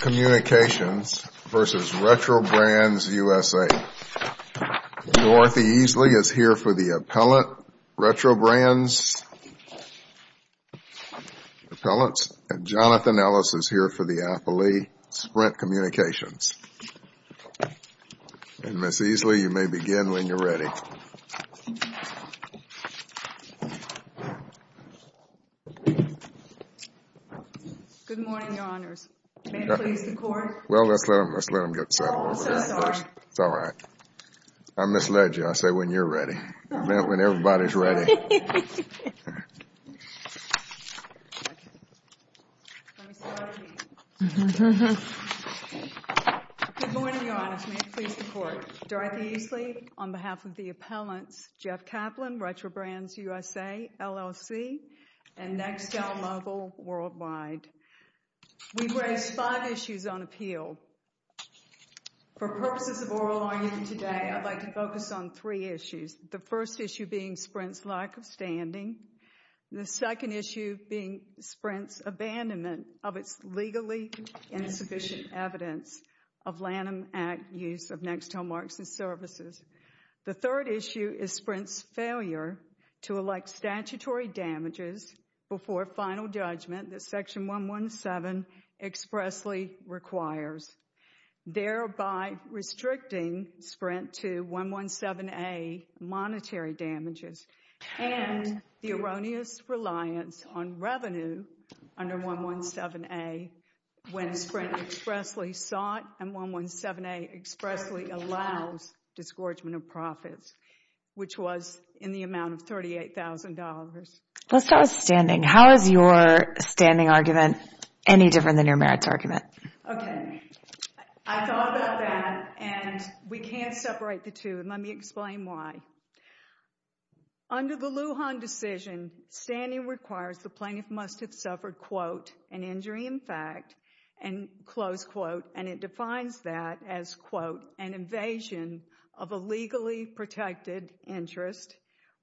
Communications versus Retrobrands USA. Dorothy Easley is here for the appellant, Retrobrands Appellants, and Jonathan Ellis is here for the appellee, Sprint Communications. And Ms. Let's let them get settled over there first. It's all right. I misled you. I said when you're ready. I meant when everybody's ready. Dorothy Easley, on behalf of the appellants, Jeff Kaplan, Retrobrands USA, LLC, and Nextel Mobile Worldwide. We've raised five issues on appeal. For purposes of oral argument today, I'd like to focus on three issues. The first issue being Sprint's lack of standing. The second issue being Sprint's abandonment of its legally insufficient evidence of Lanham Act use of Nextel marks and services. The third issue is Sprint's failure to elect statutory damages before final judgment that Section 117 expressly requires, thereby restricting Sprint to 117A monetary damages and the erroneous reliance on revenue under 117A when Sprint expressly sought and 117A expressly allows disgorgement of profits, which was in the amount of $38,000. Let's start with standing. How is your standing argument any different than your merits argument? Okay. I thought about that, and we can't separate the two. Let me explain why. Under the Lujan decision, standing requires the plaintiff must have suffered, quote, an injury in fact, and close quote, and it defines that as, quote, an invasion of a legally protected interest,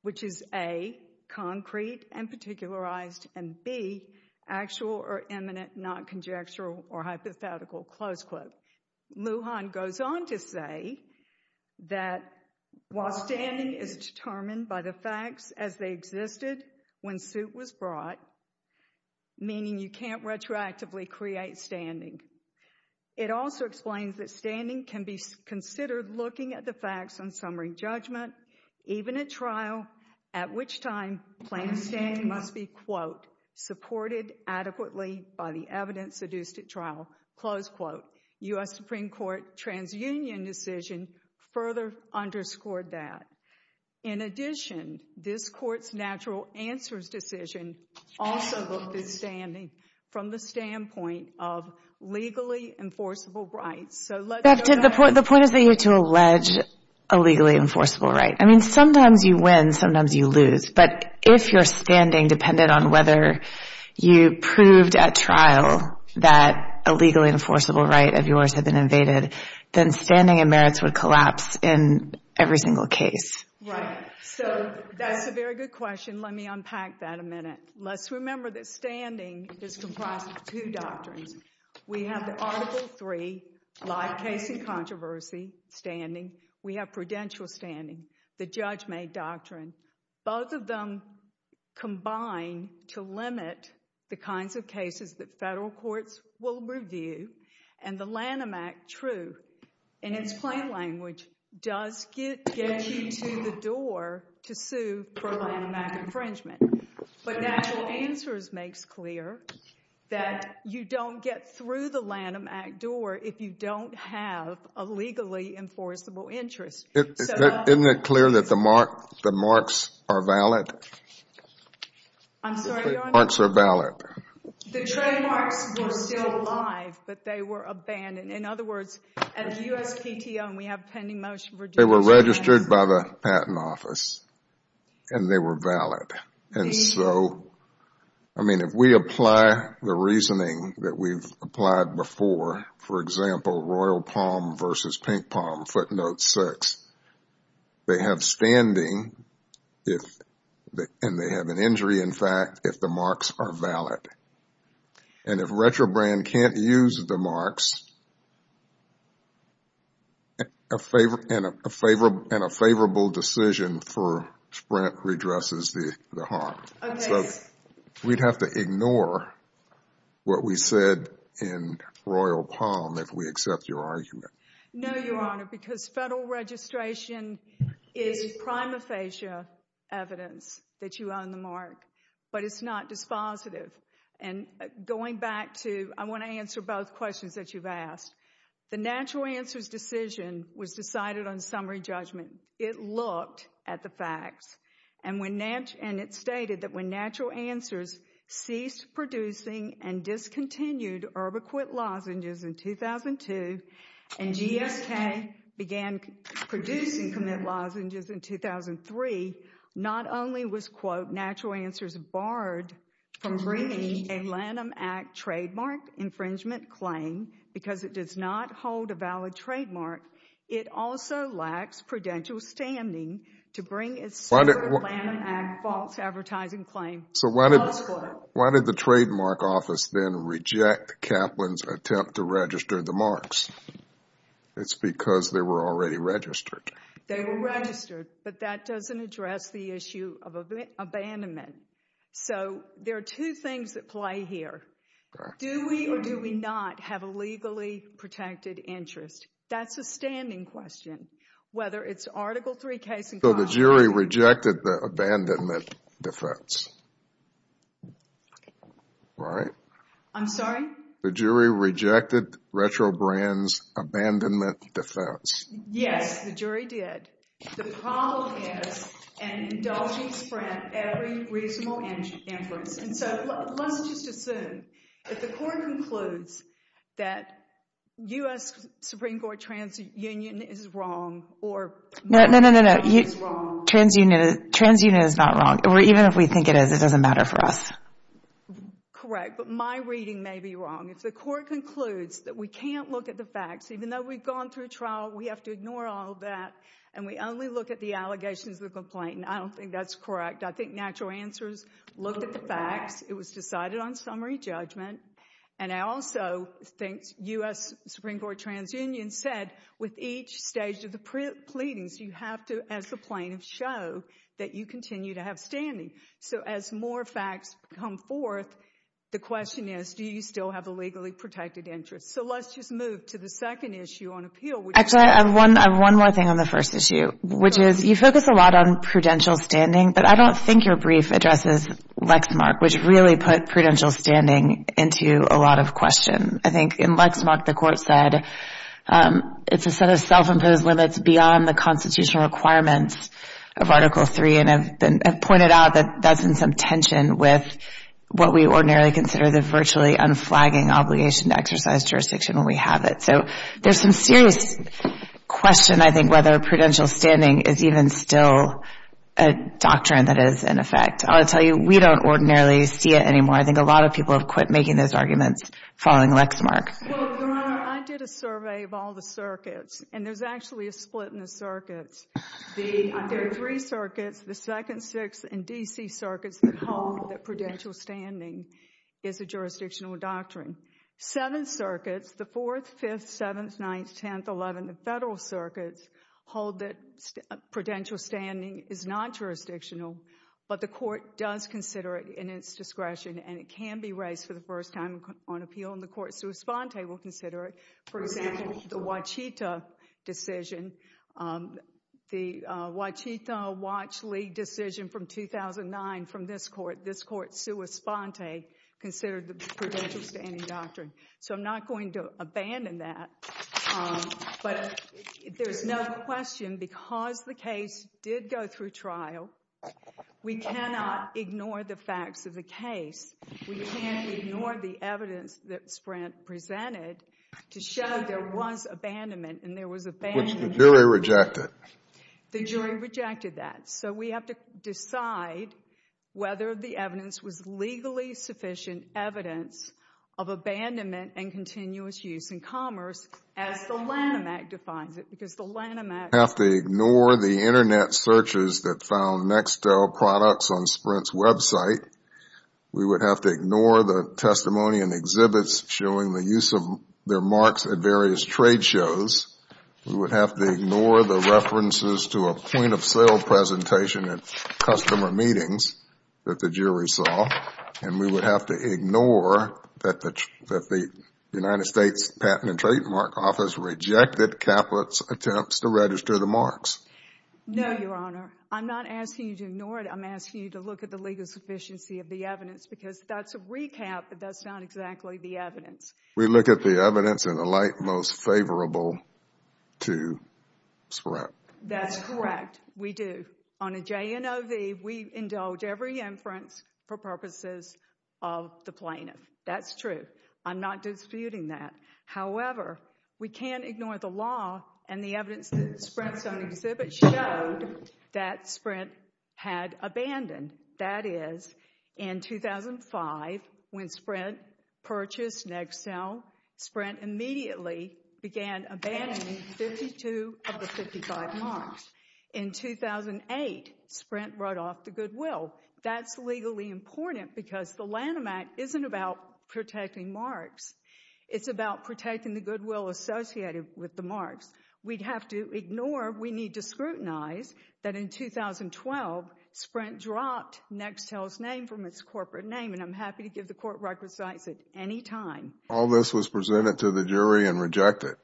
which is A, concrete and particularized, and B, actual or imminent, not conjectural or hypothetical, close quote. Lujan goes on to say that while standing is determined by the facts as they existed when suit was brought, meaning you can't retroactively create standing, it also explains that standing can be considered looking at the facts on summary judgment, even at trial, at which time plaintiff's standing must be, quote, supported adequately by the evidence seduced at trial, close quote. U.S. Supreme Court Transunion decision further underscored that. In addition, this Court's natural answers decision also looked at standing from the standpoint of legally enforceable rights, so let's go back. The point is that you have to allege a legally enforceable right. I mean, sometimes you win, sometimes you lose, but if your standing depended on whether you proved at trial that a legally would collapse in every single case. Right. So that's a very good question. Let me unpack that a minute. Let's remember that standing is comprised of two doctrines. We have the Article 3, live case and controversy standing. We have prudential standing, the judge-made doctrine. Both of them combine to limit the kinds of cases that federal courts will review, and the Lanham Act, true in its plain language, does get you to the door to sue for Lanham Act infringement. But natural answers makes clear that you don't get through the Lanham Act door if you don't have a legally enforceable interest. Isn't it clear that the marks are valid? I'm sorry, Your Honor. The marks are valid. The trademarks were still live, but they were abandoned. In other words, at the USPTO, and we have pending motion for due process. They were registered by the Patent Office, and they were valid. And so, I mean, if we apply the reasoning that we've applied before, for example, Royal Palm versus Pink Palm, footnote 6, they have standing, and they have an injury, in fact, if the marks are valid. And if Retrobrand can't use the marks, and a favorable decision for Sprint redresses the harm. So, we'd have to ignore what we said in Royal Palm if we accept your argument. No, Your Honor, because federal registration is prima facie evidence that you own the mark, but it's not dispositive. And going back to, I want to answer both questions that you've asked. The natural answers decision was decided on summary judgment. It looked at the facts, and it stated that when natural answers ceased producing and discontinued urbiquit lozenges in 2002, and GSK began producing commit lozenges in 2003, not only was, quote, natural answers barred from bringing a Lanham Act trademark infringement claim because it does not hold a valid trademark, it also lacks prudential standing to bring a attempt to register the marks. It's because they were already registered. They were registered, but that doesn't address the issue of abandonment. So, there are two things that play here. Do we or do we not have a legally protected interest? That's a standing question, whether it's Article III case in... So, the jury rejected the abandonment defense. Right? I'm sorry? The jury rejected Retrobrand's abandonment defense. Yes, the jury did. The problem is an indulgent spread of every reasonable inference. And so, let's just assume that the court concludes that U.S. Supreme Court TransUnion is wrong or... No, no, no, no, no. TransUnion is not wrong. Even if we think it is, it doesn't matter for us. Correct, but my reading may be wrong. If the court concludes that we can't look at the facts, even though we've gone through trial, we have to ignore all that, and we only look at the allegations of the complaint, I don't think that's correct. I think natural answers looked at the facts. It was decided on summary judgment. And I also think U.S. Supreme Court TransUnion said with each stage of the So, as more facts come forth, the question is, do you still have a legally protected interest? So, let's just move to the second issue on appeal. Actually, I have one more thing on the first issue, which is you focus a lot on prudential standing, but I don't think your brief addresses Lexmark, which really put prudential standing into a lot of question. I think in Lexmark, the court said it's a set of self-imposed limits beyond the constitutional requirements of Article III, and have pointed out that that's in some tension with what we ordinarily consider the virtually unflagging obligation to exercise jurisdiction when we have it. So, there's some serious question, I think, whether prudential standing is even still a doctrine that is in effect. I'll tell you, we don't ordinarily see it anymore. I think a lot of people have quit making those arguments following Lexmark. Well, Your Honor, I did a split in the circuits. There are three circuits, the Second, Sixth, and D.C. circuits that hold that prudential standing is a jurisdictional doctrine. Seven circuits, the Fourth, Fifth, Seventh, Ninth, Tenth, Eleventh, and Federal circuits hold that prudential standing is not jurisdictional, but the court does consider it in its discretion, and it can be raised for the the Wachito-Watchley decision from 2009 from this court. This court, sua sponte, considered the prudential standing doctrine. So, I'm not going to abandon that, but there's no question because the case did go through trial, we cannot ignore the facts of the case. We can't ignore the evidence that Sprint presented to show there was abandonment, and there was abandonment. Which the jury rejected. The jury rejected that. So, we have to decide whether the evidence was legally sufficient evidence of abandonment and continuous use in commerce as the Lanham Act defines it because the Lanham Act. We have to ignore the internet searches that found Nextel products on Sprint's website. We would have to ignore the testimony and exhibits showing the use of their marks at various trade shows. We would have to ignore the references to a point-of-sale presentation at customer meetings that the jury saw, and we would have to ignore that the United States Patent and Trademark Office rejected Caput's attempts to register the marks. No, Your Honor. I'm not asking you to ignore it. I'm asking you to look at the legal sufficiency of the evidence because that's a recap, but that's not exactly the evidence. We look at the evidence in a light most favorable to Sprint. That's correct. We do. On a JNOV, we indulge every inference for purposes of the plaintiff. That's true. I'm not disputing that. However, we can't ignore the law and the evidence that Sprint's own exhibit showed that Sprint had abandoned. That is, in 2005, when Sprint purchased Nextel, Sprint immediately began abandoning 52 of the 55 marks. In 2008, Sprint wrote off the goodwill. That's legally important because the Lanham Act isn't about protecting marks. It's about protecting the goodwill associated with the marks. We'd have to ignore, we need to scrutinize, that in 2012, Sprint dropped Nextel's name from its corporate name, and I'm happy to give the court record sites at any time. All this was presented to the jury and rejected.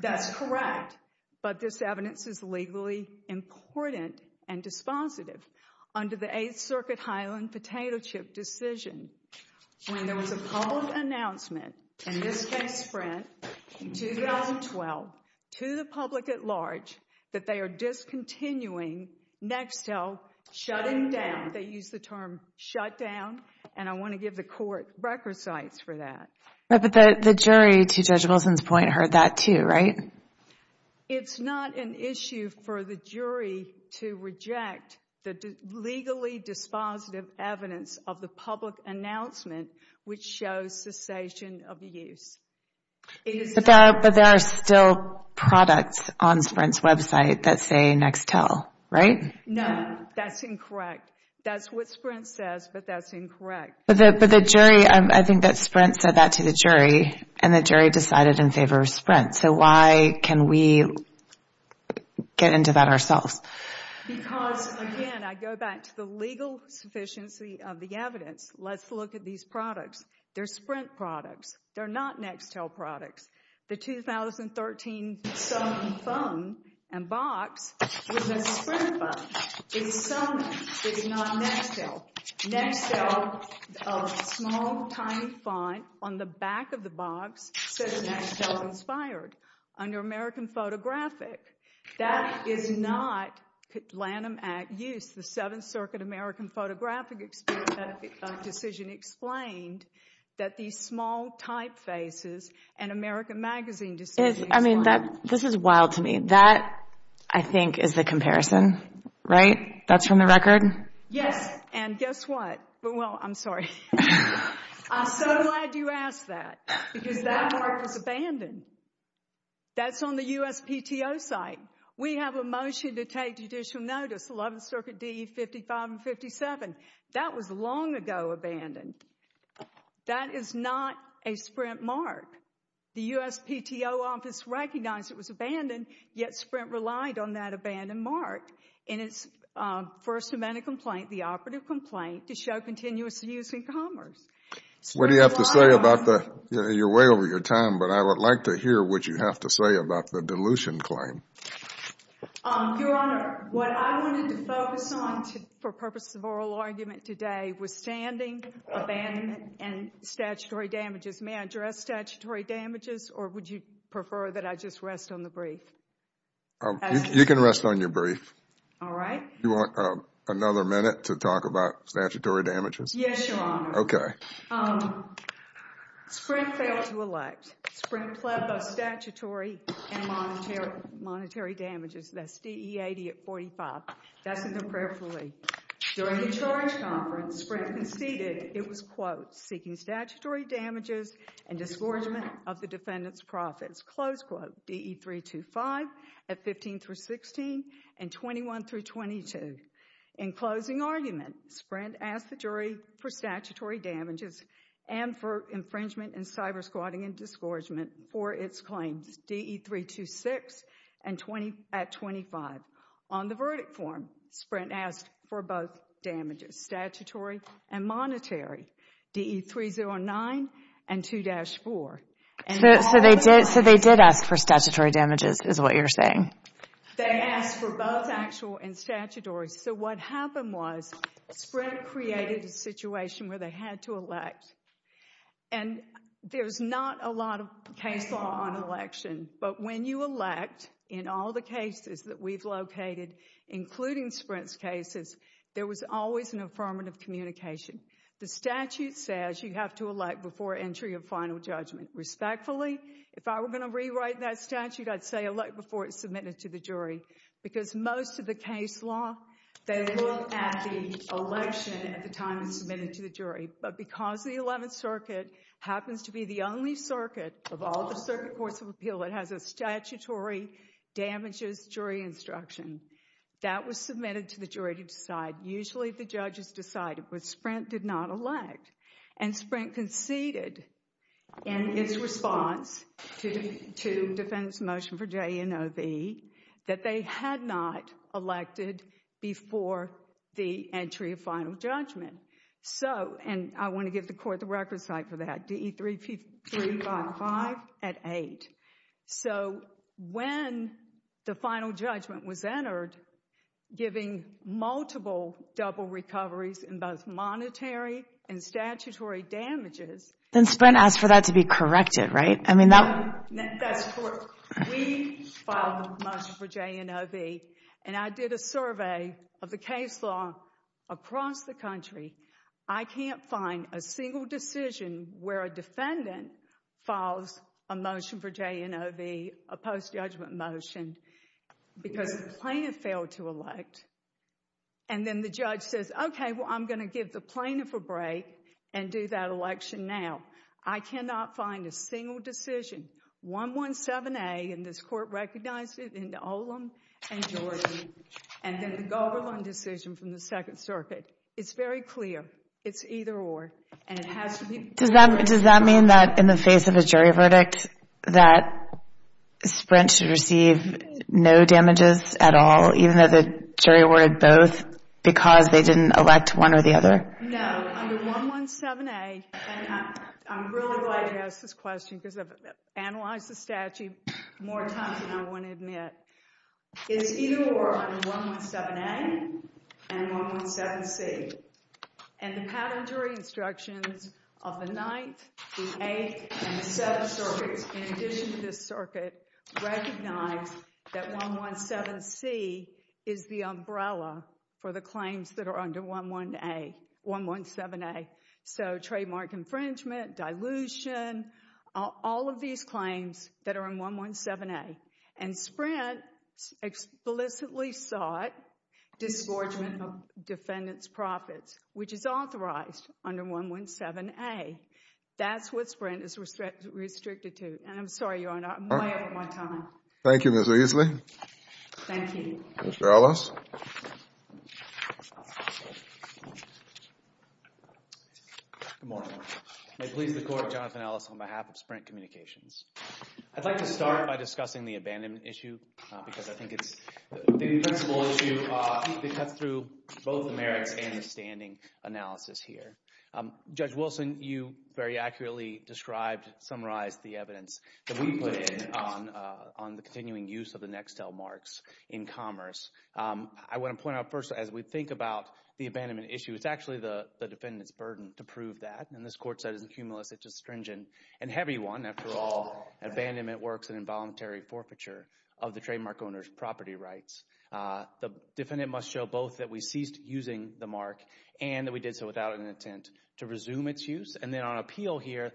That's correct, but this evidence is legally important and dispositive. Under the 8th Circuit Highland potato chip decision, when there was a public announcement, in this case Sprint, in 2012, to the public at large, that they are discontinuing Nextel, shutting down, they used the term shut down, and I want to give the court record sites for that. But the jury, to Judge Wilson's point, heard that too, right? It's not an issue for the use. But there are still products on Sprint's website that say Nextel, right? No, that's incorrect. That's what Sprint says, but that's incorrect. But the jury, I think that Sprint said that to the jury, and the jury decided in favor of Sprint. So why can we get into that ourselves? Because, again, I go back to the legal sufficiency of the evidence. Let's look at these products. They're Sprint products. They're not Nextel products. The 2013 Sony phone and box was a Sprint phone. It's Sony. It's not Nextel. Nextel, a small, tiny font on the back of the box says Nextel-inspired. Under American Photographic, that is not Lanham Act use. The 7th Circuit American Photographic decision explained that these small typefaces and American Magazine decisions— I mean, this is wild to me. That, I think, is the comparison, right? That's from the record? Yes, and guess what? Well, I'm sorry. I'm so glad you asked that, because that part was abandoned. That's on the USPTO site. We have a motion to take judicial notice, 11th Circuit D.E. 55 and 57. That was long ago abandoned. That is not a Sprint mark. The USPTO office recognized it was abandoned, yet Sprint relied on that abandoned mark in its first amendment complaint, the operative complaint, to show continuous use in commerce. What do you have to say about the—you're way over your time, but I would like to hear what you have to say about the dilution claim. Your Honor, what I wanted to focus on for purpose of oral argument today was standing, abandonment, and statutory damages. May I address statutory damages, or would you prefer that I just rest on the brief? You can rest on your brief. All right. Do you want another minute to talk about statutory damages? Yes, Your Honor. Okay. Sprint failed to elect. Sprint pled both statutory and monetary damages. That's D.E. 80 at 45. That's in the prayerfully. During the charge conference, Sprint conceded it was, quote, seeking statutory damages and disgorgement of the defendant's profits, close quote, D.E. 325 at 15 through 16 and 21 through 22. In closing argument, Sprint asked the jury for statutory damages and for infringement and cyber squatting and disgorgement for its claims, D.E. 326 at 25. On the verdict form, Sprint asked for both damages, statutory and monetary, D.E. 309 and 2-4. So they did ask for statutory damages, is what you're saying? They asked for both actual and statutory. So what happened was Sprint created a situation where they had to elect. And there's not a lot of case law on election. But when you elect in all the cases that we've located, including Sprint's cases, there was always an affirmative communication. The statute says you have to elect before entry of final judgment. Respectfully, if I were going to rewrite that statute, I'd say elect before it's submitted to the jury. Because most of the case law, they look at the election at the time it's submitted to the jury. But because the 11th Circuit happens to be the only circuit of all the circuit courts of appeal that has a statutory damages jury instruction, that was submitted to the jury to decide. Usually the judges decided, but Sprint did not elect. And Sprint conceded in its response to defendant's motion for J.E. and O.V. that they had not elected before the entry of final judgment. And I want to give the court the record site for that, D.E. 355 at 8. giving multiple double recoveries in both monetary and statutory damages. Then Sprint asked for that to be corrected, right? I mean, that's court. We filed a motion for J.E. and O.V. And I did a survey of the case law across the country. I can't find a single decision where a defendant files a motion for J.E. and O.V., a post-judgment motion, because the plaintiff failed to elect. And then the judge says, okay, well, I'm going to give the plaintiff a break and do that election now. I cannot find a single decision. 117A, and this court recognized it in Olam and Jordan. And then the Goberlund decision from the Second Circuit. It's very clear. It's either or. And it has to be... Does that mean that in the face of a jury verdict, that Sprint should receive no damages at all, even though the jury awarded both, because they didn't elect one or the other? No. Under 117A, and I'm really glad you asked this question, because I've analyzed the statute more times than I want to admit. It's either or on 117A and 117C. And the patent jury instructions of the Ninth, the Eighth, and the Seventh Circuits, in addition to this circuit, recognize that 117C is the umbrella for the claims that are under 117A. So trademark infringement, dilution, all of these claims that are in 117A. And Sprint explicitly sought disgorgement of defendant's profits, which is authorized under 117A. That's what Sprint is restricted to. And I'm sorry, Your Honor. I'm way over my time. Thank you, Ms. Easley. Thank you. Mr. Ellis. Good morning. May it please the Court, Jonathan Ellis, on behalf of Sprint Communications. I'd like to start by discussing the abandonment issue, because I think it's the principal issue that cuts through both the merits and the standing analysis here. Judge Wilson, you very accurately described, summarized the evidence that we put in on the continuing use of the Nextel marks in commerce. I want to point out first, as we think about the abandonment issue, it's actually the defendant's burden to prove that. And this Court said it's cumulus, it's a stringent and heavy one. After all, abandonment works in involuntary forfeiture of the trademark owner's property rights. The defendant must show both that we ceased using the mark and that we did so without an intent to resume its use. And then on appeal here,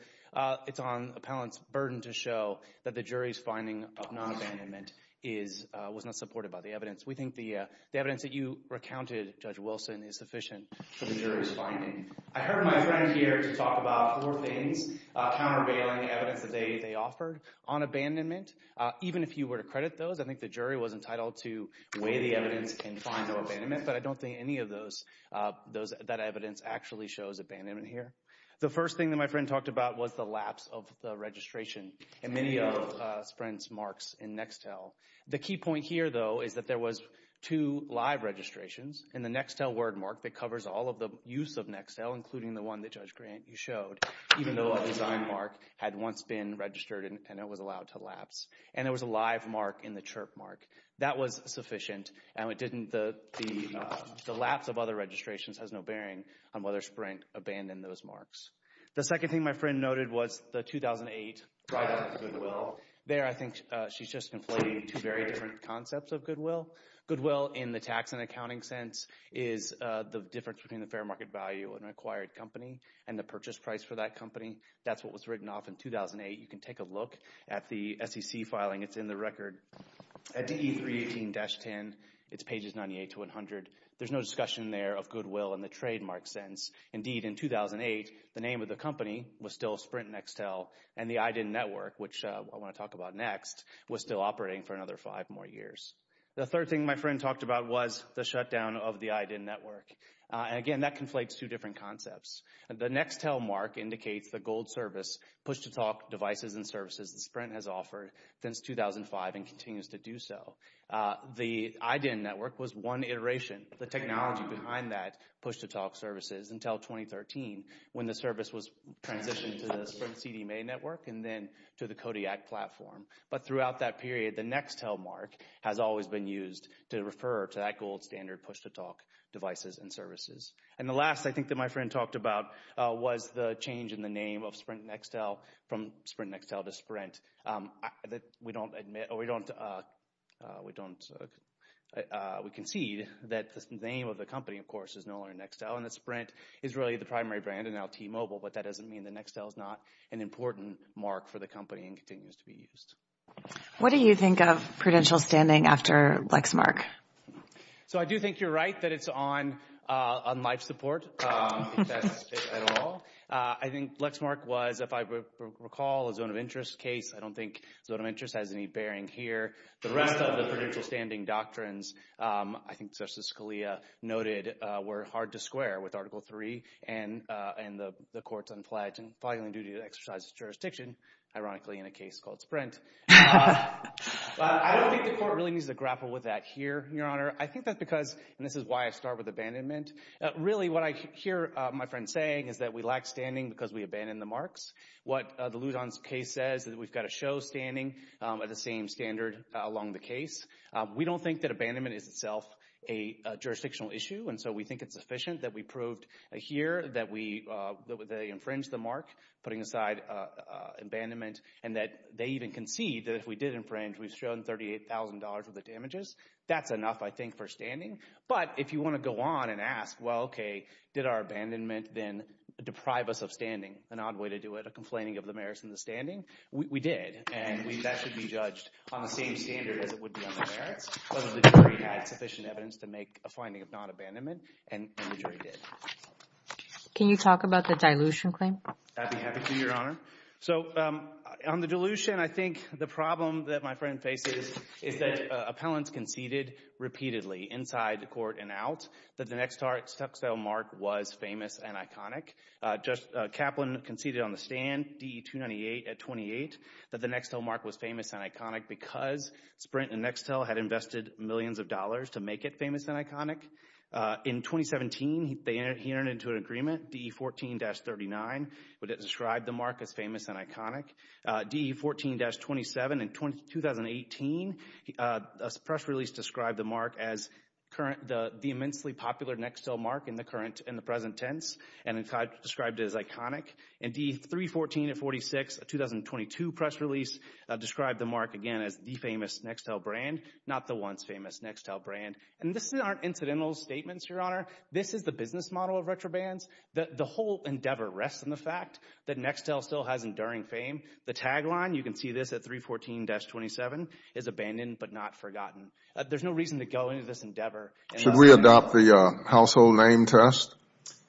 it's on appellant's burden to show that the jury's finding of non-abandonment is, was not supported by the evidence. We think the evidence that you recounted, Judge Wilson, is sufficient for the jury's finding. I heard my friend here to talk about four things, countervailing evidence that they offered on abandonment. Even if you were to credit those, I think the jury was entitled to weigh the evidence and find no abandonment. But I don't think any of those, that evidence actually shows abandonment here. The first thing that my friend talked about was the lapse of the registration in many of Sprint's marks in Nextel. The key point here though, is that there was two live registrations in the Nextel wordmark that covers all of the use of Nextel, including the one that Judge Grant, you showed. Even though a design mark had once been registered and it was allowed to lapse. And there was a live mark in the chirp mark. That was sufficient. And it didn't, the lapse of other registrations has no bearing on whether Sprint abandoned those marks. The second thing my friend noted was the 2008 write-off of Goodwill. There, I think she's just conflating two very different concepts of Goodwill. Goodwill in the tax and accounting sense is the difference between the fair market value of an acquired company and the purchase price for that company. That's what was written off in 2008. You can take a look at the SEC filing. It's in the record at DE 318-10. It's pages 98 to 100. There's no discussion there of Goodwill in the trademark sense. Indeed, in 2008, the name of the company was still Sprint Nextel. And the IDIN network, which I wanna talk about next, was still operating for another five more years. The third thing my friend talked about was the shutdown of the IDIN network. Again, that conflates two different concepts. The Nextel mark indicates the gold service, push-to-talk devices and services that Sprint has offered since 2005 and continues to do so. The IDIN network was one iteration, the technology behind that push-to-talk services until 2013 when the service was transitioned to the Sprint CDMA network and then to the Kodiak platform. But throughout that period, the Nextel mark has always been used to refer to that gold standard push-to-talk devices and services. And the last, I think, that my friend talked about was the change in the name of Sprint Nextel from Sprint Nextel to Sprint. We concede that the name of the company, of course, is no longer Nextel and that Sprint is really the primary brand and now T-Mobile, but that doesn't mean that Nextel is not an important mark for the company and continues to be used. What do you think of Prudential standing after Lexmark? So I do think you're right that it's on life support at all. I think Lexmark was, if I recall, a zone of interest case. I don't think zone of interest has any bearing here. The rest of the Prudential standing doctrines, I think Justice Scalia noted, were hard to square with Article 3 and the court's unfledged and filing duty to exercise jurisdiction, ironically, in a case called Sprint. I don't think the court really needs to grapple with that here, Your Honor. I think that's because, and this is why I start with abandonment, really what I hear my friend saying is that we lack standing because we abandon the marks. What the Lujan's case says is that we've got to show standing at the same standard along the case. We don't think that abandonment is itself a jurisdictional issue and so we think it's efficient that we proved here that they infringed the mark, putting aside abandonment, and that they even concede that if we did infringe, we've shown $38,000 of the damages. That's enough, I think, for standing. If you want to go on and ask, well, okay, did our abandonment then deprive us of standing? An odd way to do it, a complaining of the merits in the standing. We did and that should be judged on the same standard as it would be on the merits, whether the jury had sufficient evidence to make a finding of non-abandonment and the jury did. Can you talk about the dilution claim? I'd be happy to, Your Honor. On the dilution, I think the problem that my friend faces is that appellants conceded repeatedly inside court and out that the Nextel mark was famous and iconic. Kaplan conceded on the stand, DE 298 at 28, that the Nextel mark was famous and iconic because Sprint and Nextel had invested millions of dollars to make it famous and iconic. In 2017, he entered into an agreement, DE 14-39, where it described the mark as famous and iconic. DE 14-27 in 2018, a press release described the mark the immensely popular Nextel mark in the present tense and described it as iconic. And DE 314 at 46, a 2022 press release described the mark again as the famous Nextel brand, not the once famous Nextel brand. And these aren't incidental statements, Your Honor. This is the business model of retrobands. The whole endeavor rests on the fact that Nextel still has enduring fame. The tagline, you can see this at 314-27, is abandoned but not forgotten. There's no reason to go into this endeavor. Should we adopt the household name test?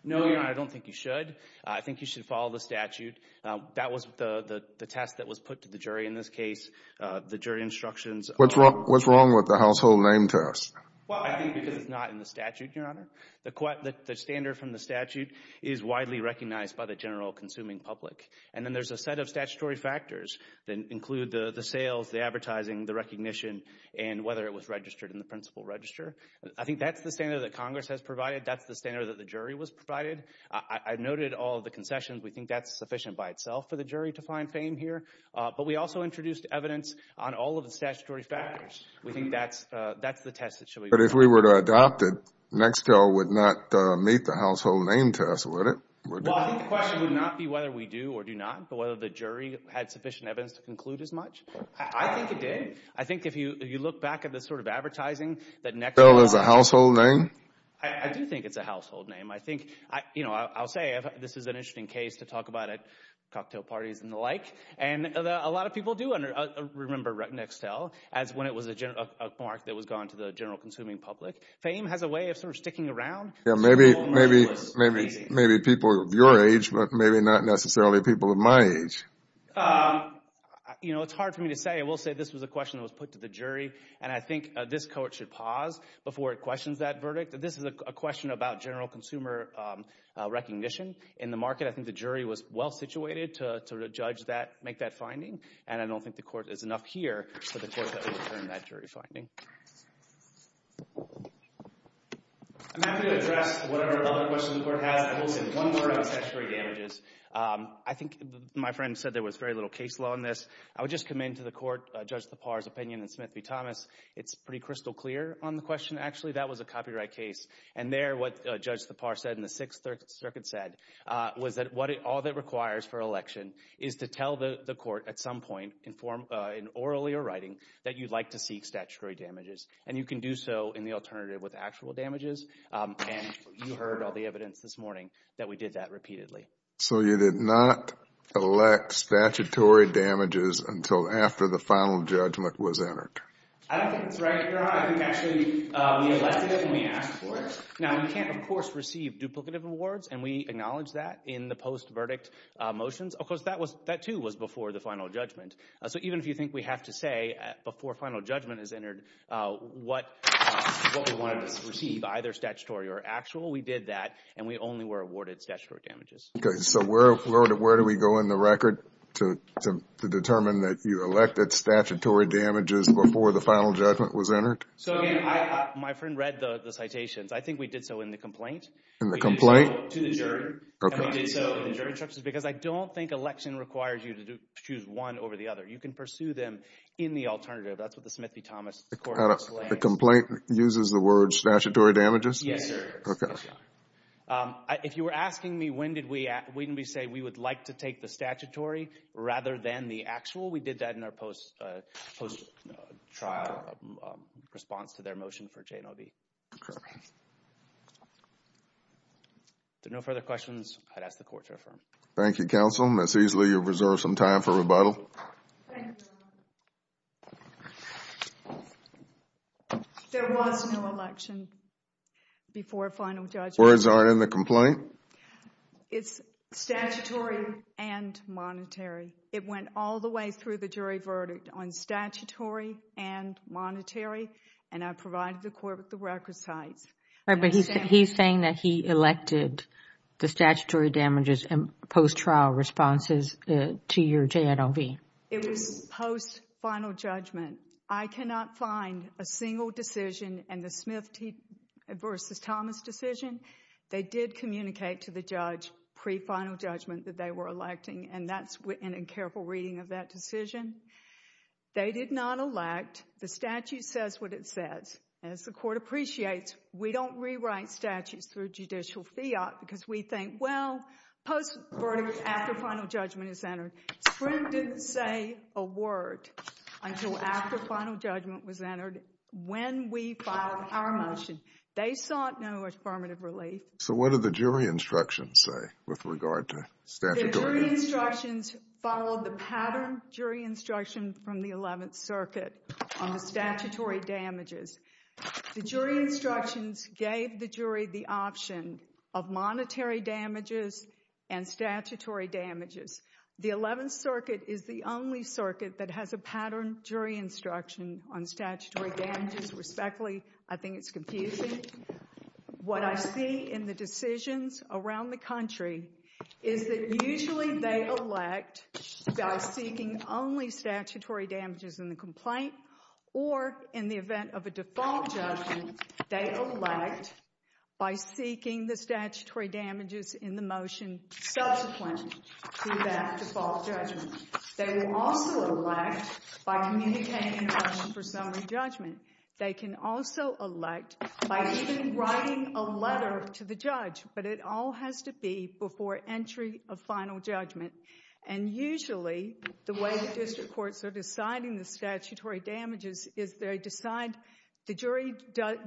No, Your Honor, I don't think you should. I think you should follow the statute. That was the test that was put to the jury in this case, the jury instructions. What's wrong with the household name test? Well, I think because it's not in the statute, Your Honor. The standard from the statute is widely recognized by the general consuming public. And then there's a set of statutory factors that include the sales, the advertising, the recognition, and whether it was registered in the principal register. I think that's the standard that Congress has provided. That's the standard that the jury was provided. I noted all of the concessions. We think that's sufficient by itself for the jury to find fame here. But we also introduced evidence on all of the statutory factors. We think that's the test that should be. But if we were to adopt it, Nextel would not meet the household name test, would it? Well, I think the question would not be whether we do or do not, but whether the jury had sufficient evidence to conclude as much. I think it did. I think if you look back at this sort of advertising, that Nextel is a household name. I do think it's a household name. I think, you know, I'll say this is an interesting case to talk about it, cocktail parties and the like. And a lot of people do remember Nextel as when it was a mark that was gone to the general consuming public. Fame has a way of sort of sticking around. Yeah, maybe people of your age, but maybe not necessarily people of my age. You know, it's hard for me to say. I will say this was a question that was put to the jury. And I think this court should pause before it questions that verdict. This is a question about general consumer recognition in the market. I think the jury was well situated to judge that, make that finding. And I don't think the court is enough here for the court to overturn that jury finding. I'm happy to address whatever other questions the court has. I will say one more about statutory damages. I think my friend said there was very little case law in this. I would just come into the court, Judge Thepar's opinion in Smith v. Thomas. It's pretty crystal clear on the question. Actually, that was a copyright case. And there, what Judge Thepar said in the Sixth Circuit said, was that all that requires for election is to tell the court at some point in form, in orally or writing, that you'd like to seek statutory damages. And you can do so in the alternative with actual damages. And you heard all the evidence this morning that we did that repeatedly. So you did not elect statutory damages until after the final judgment was entered? I don't think that's right, Your Honor. I think actually we elected it and we asked for it. Now, we can't, of course, receive duplicative awards. And we acknowledge that in the post-verdict motions. Of course, that too was before the final judgment. So even if you think we have to say before final judgment is entered what we wanted to receive, either statutory or actual, we did that and we only were awarded statutory damages. So where do we go in the record to determine that you elected statutory damages before the final judgment was entered? So again, my friend read the citations. I think we did so in the complaint. In the complaint? To the jury. And we did so in the jury instructions because I don't think election requires you to choose one over the other. You can pursue them in the alternative. That's what the Smith v. Thomas court explained. The complaint uses the word statutory damages? Yes, sir. If you were asking me, wouldn't we say we would like to take the statutory rather than the actual? We did that in our post-trial response to their motion for J&OB. If there are no further questions, I'd ask the court to affirm. Thank you, counsel. That's easily your reserve some time for rebuttal. There was no election before final judgment. Words aren't in the complaint? It's statutory and monetary. It went all the way through the jury verdict on statutory and monetary. And I provided the court with the record sites. Right, but he's saying that he elected the statutory damages and post-trial responses to your J&OB. It was post-final judgment. I cannot find a single decision in the Smith v. Thomas decision. They did communicate to the judge pre-final judgment that they were electing. And that's in a careful reading of that decision. They did not elect. The statute says what it says. As the court appreciates, we don't rewrite statutes through judicial fiat because we think, well, post-verdict after final judgment is entered. Spring didn't say a word until after final judgment was entered. When we filed our motion, they sought no affirmative relief. So what did the jury instructions say with regard to statutory damages? The jury instructions followed the pattern jury instruction from the 11th Circuit on the statutory damages. The jury instructions gave the jury the option of monetary damages and statutory damages. The 11th Circuit is the only circuit that has a pattern jury instruction on statutory damages respectfully. I think it's confusing. What I see in the decisions around the country is that usually they elect by seeking only statutory damages in the complaint or in the event of a default judgment, they elect by seeking the statutory damages in the motion subsequent to that default judgment. They will also elect by communicating a motion for summary judgment. They can also elect by even writing a letter to the judge, but it all has to be before entry of final judgment. And usually the way the district courts are deciding the statutory damages is the jury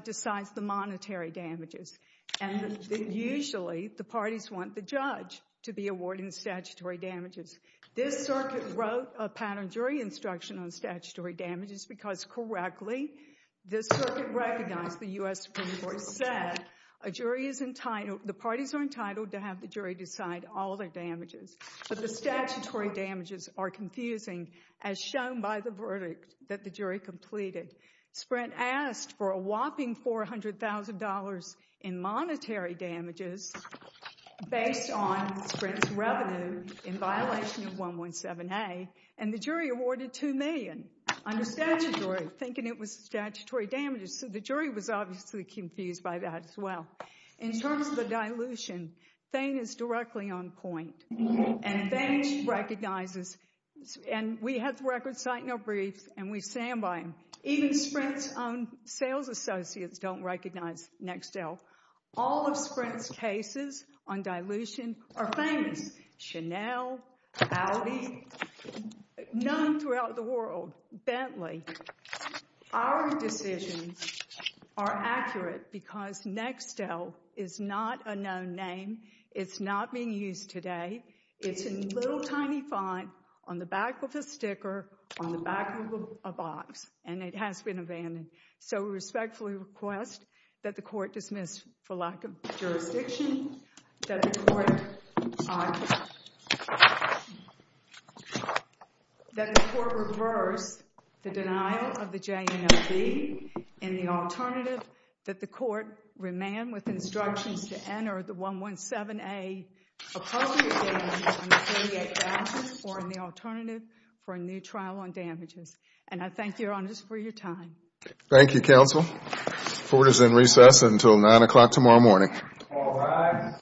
decides the monetary damages. And usually the parties want the judge to be awarding statutory damages. This circuit wrote a pattern jury instruction on statutory damages because correctly, this circuit recognized the U.S. Supreme Court said a jury is entitled, the parties are entitled to have the jury decide all their damages. But the statutory damages are confusing as shown by the verdict that the jury completed. Sprint asked for a whopping $400,000 in monetary damages based on Sprint's revenue in violation of 117A and the jury awarded $2 million under statutory thinking it was statutory damages. So the jury was obviously confused by that as well. In terms of the dilution, Thane is directly on point and Thane recognizes and we had the record site no brief and we stand by him. Even Sprint's own sales associates don't recognize Nextel. All of Sprint's cases on dilution are famous. Chanel, Audi, none throughout the world. Bentley. Our decisions are accurate because Nextel is not a known name. It's not being used today. It's a little tiny font on the back of a sticker on the back of a box and it has been abandoned. So we respectfully request that the court dismiss for lack of jurisdiction. That the court reverse the denial of the JNLB in the alternative that the court remand with instructions to enter the 117A appropriate damages on the 38 vouchers or in the alternative for a new trial on damages. And I thank your honors for your time. Thank you, counsel. Court is in recess until nine o'clock tomorrow morning.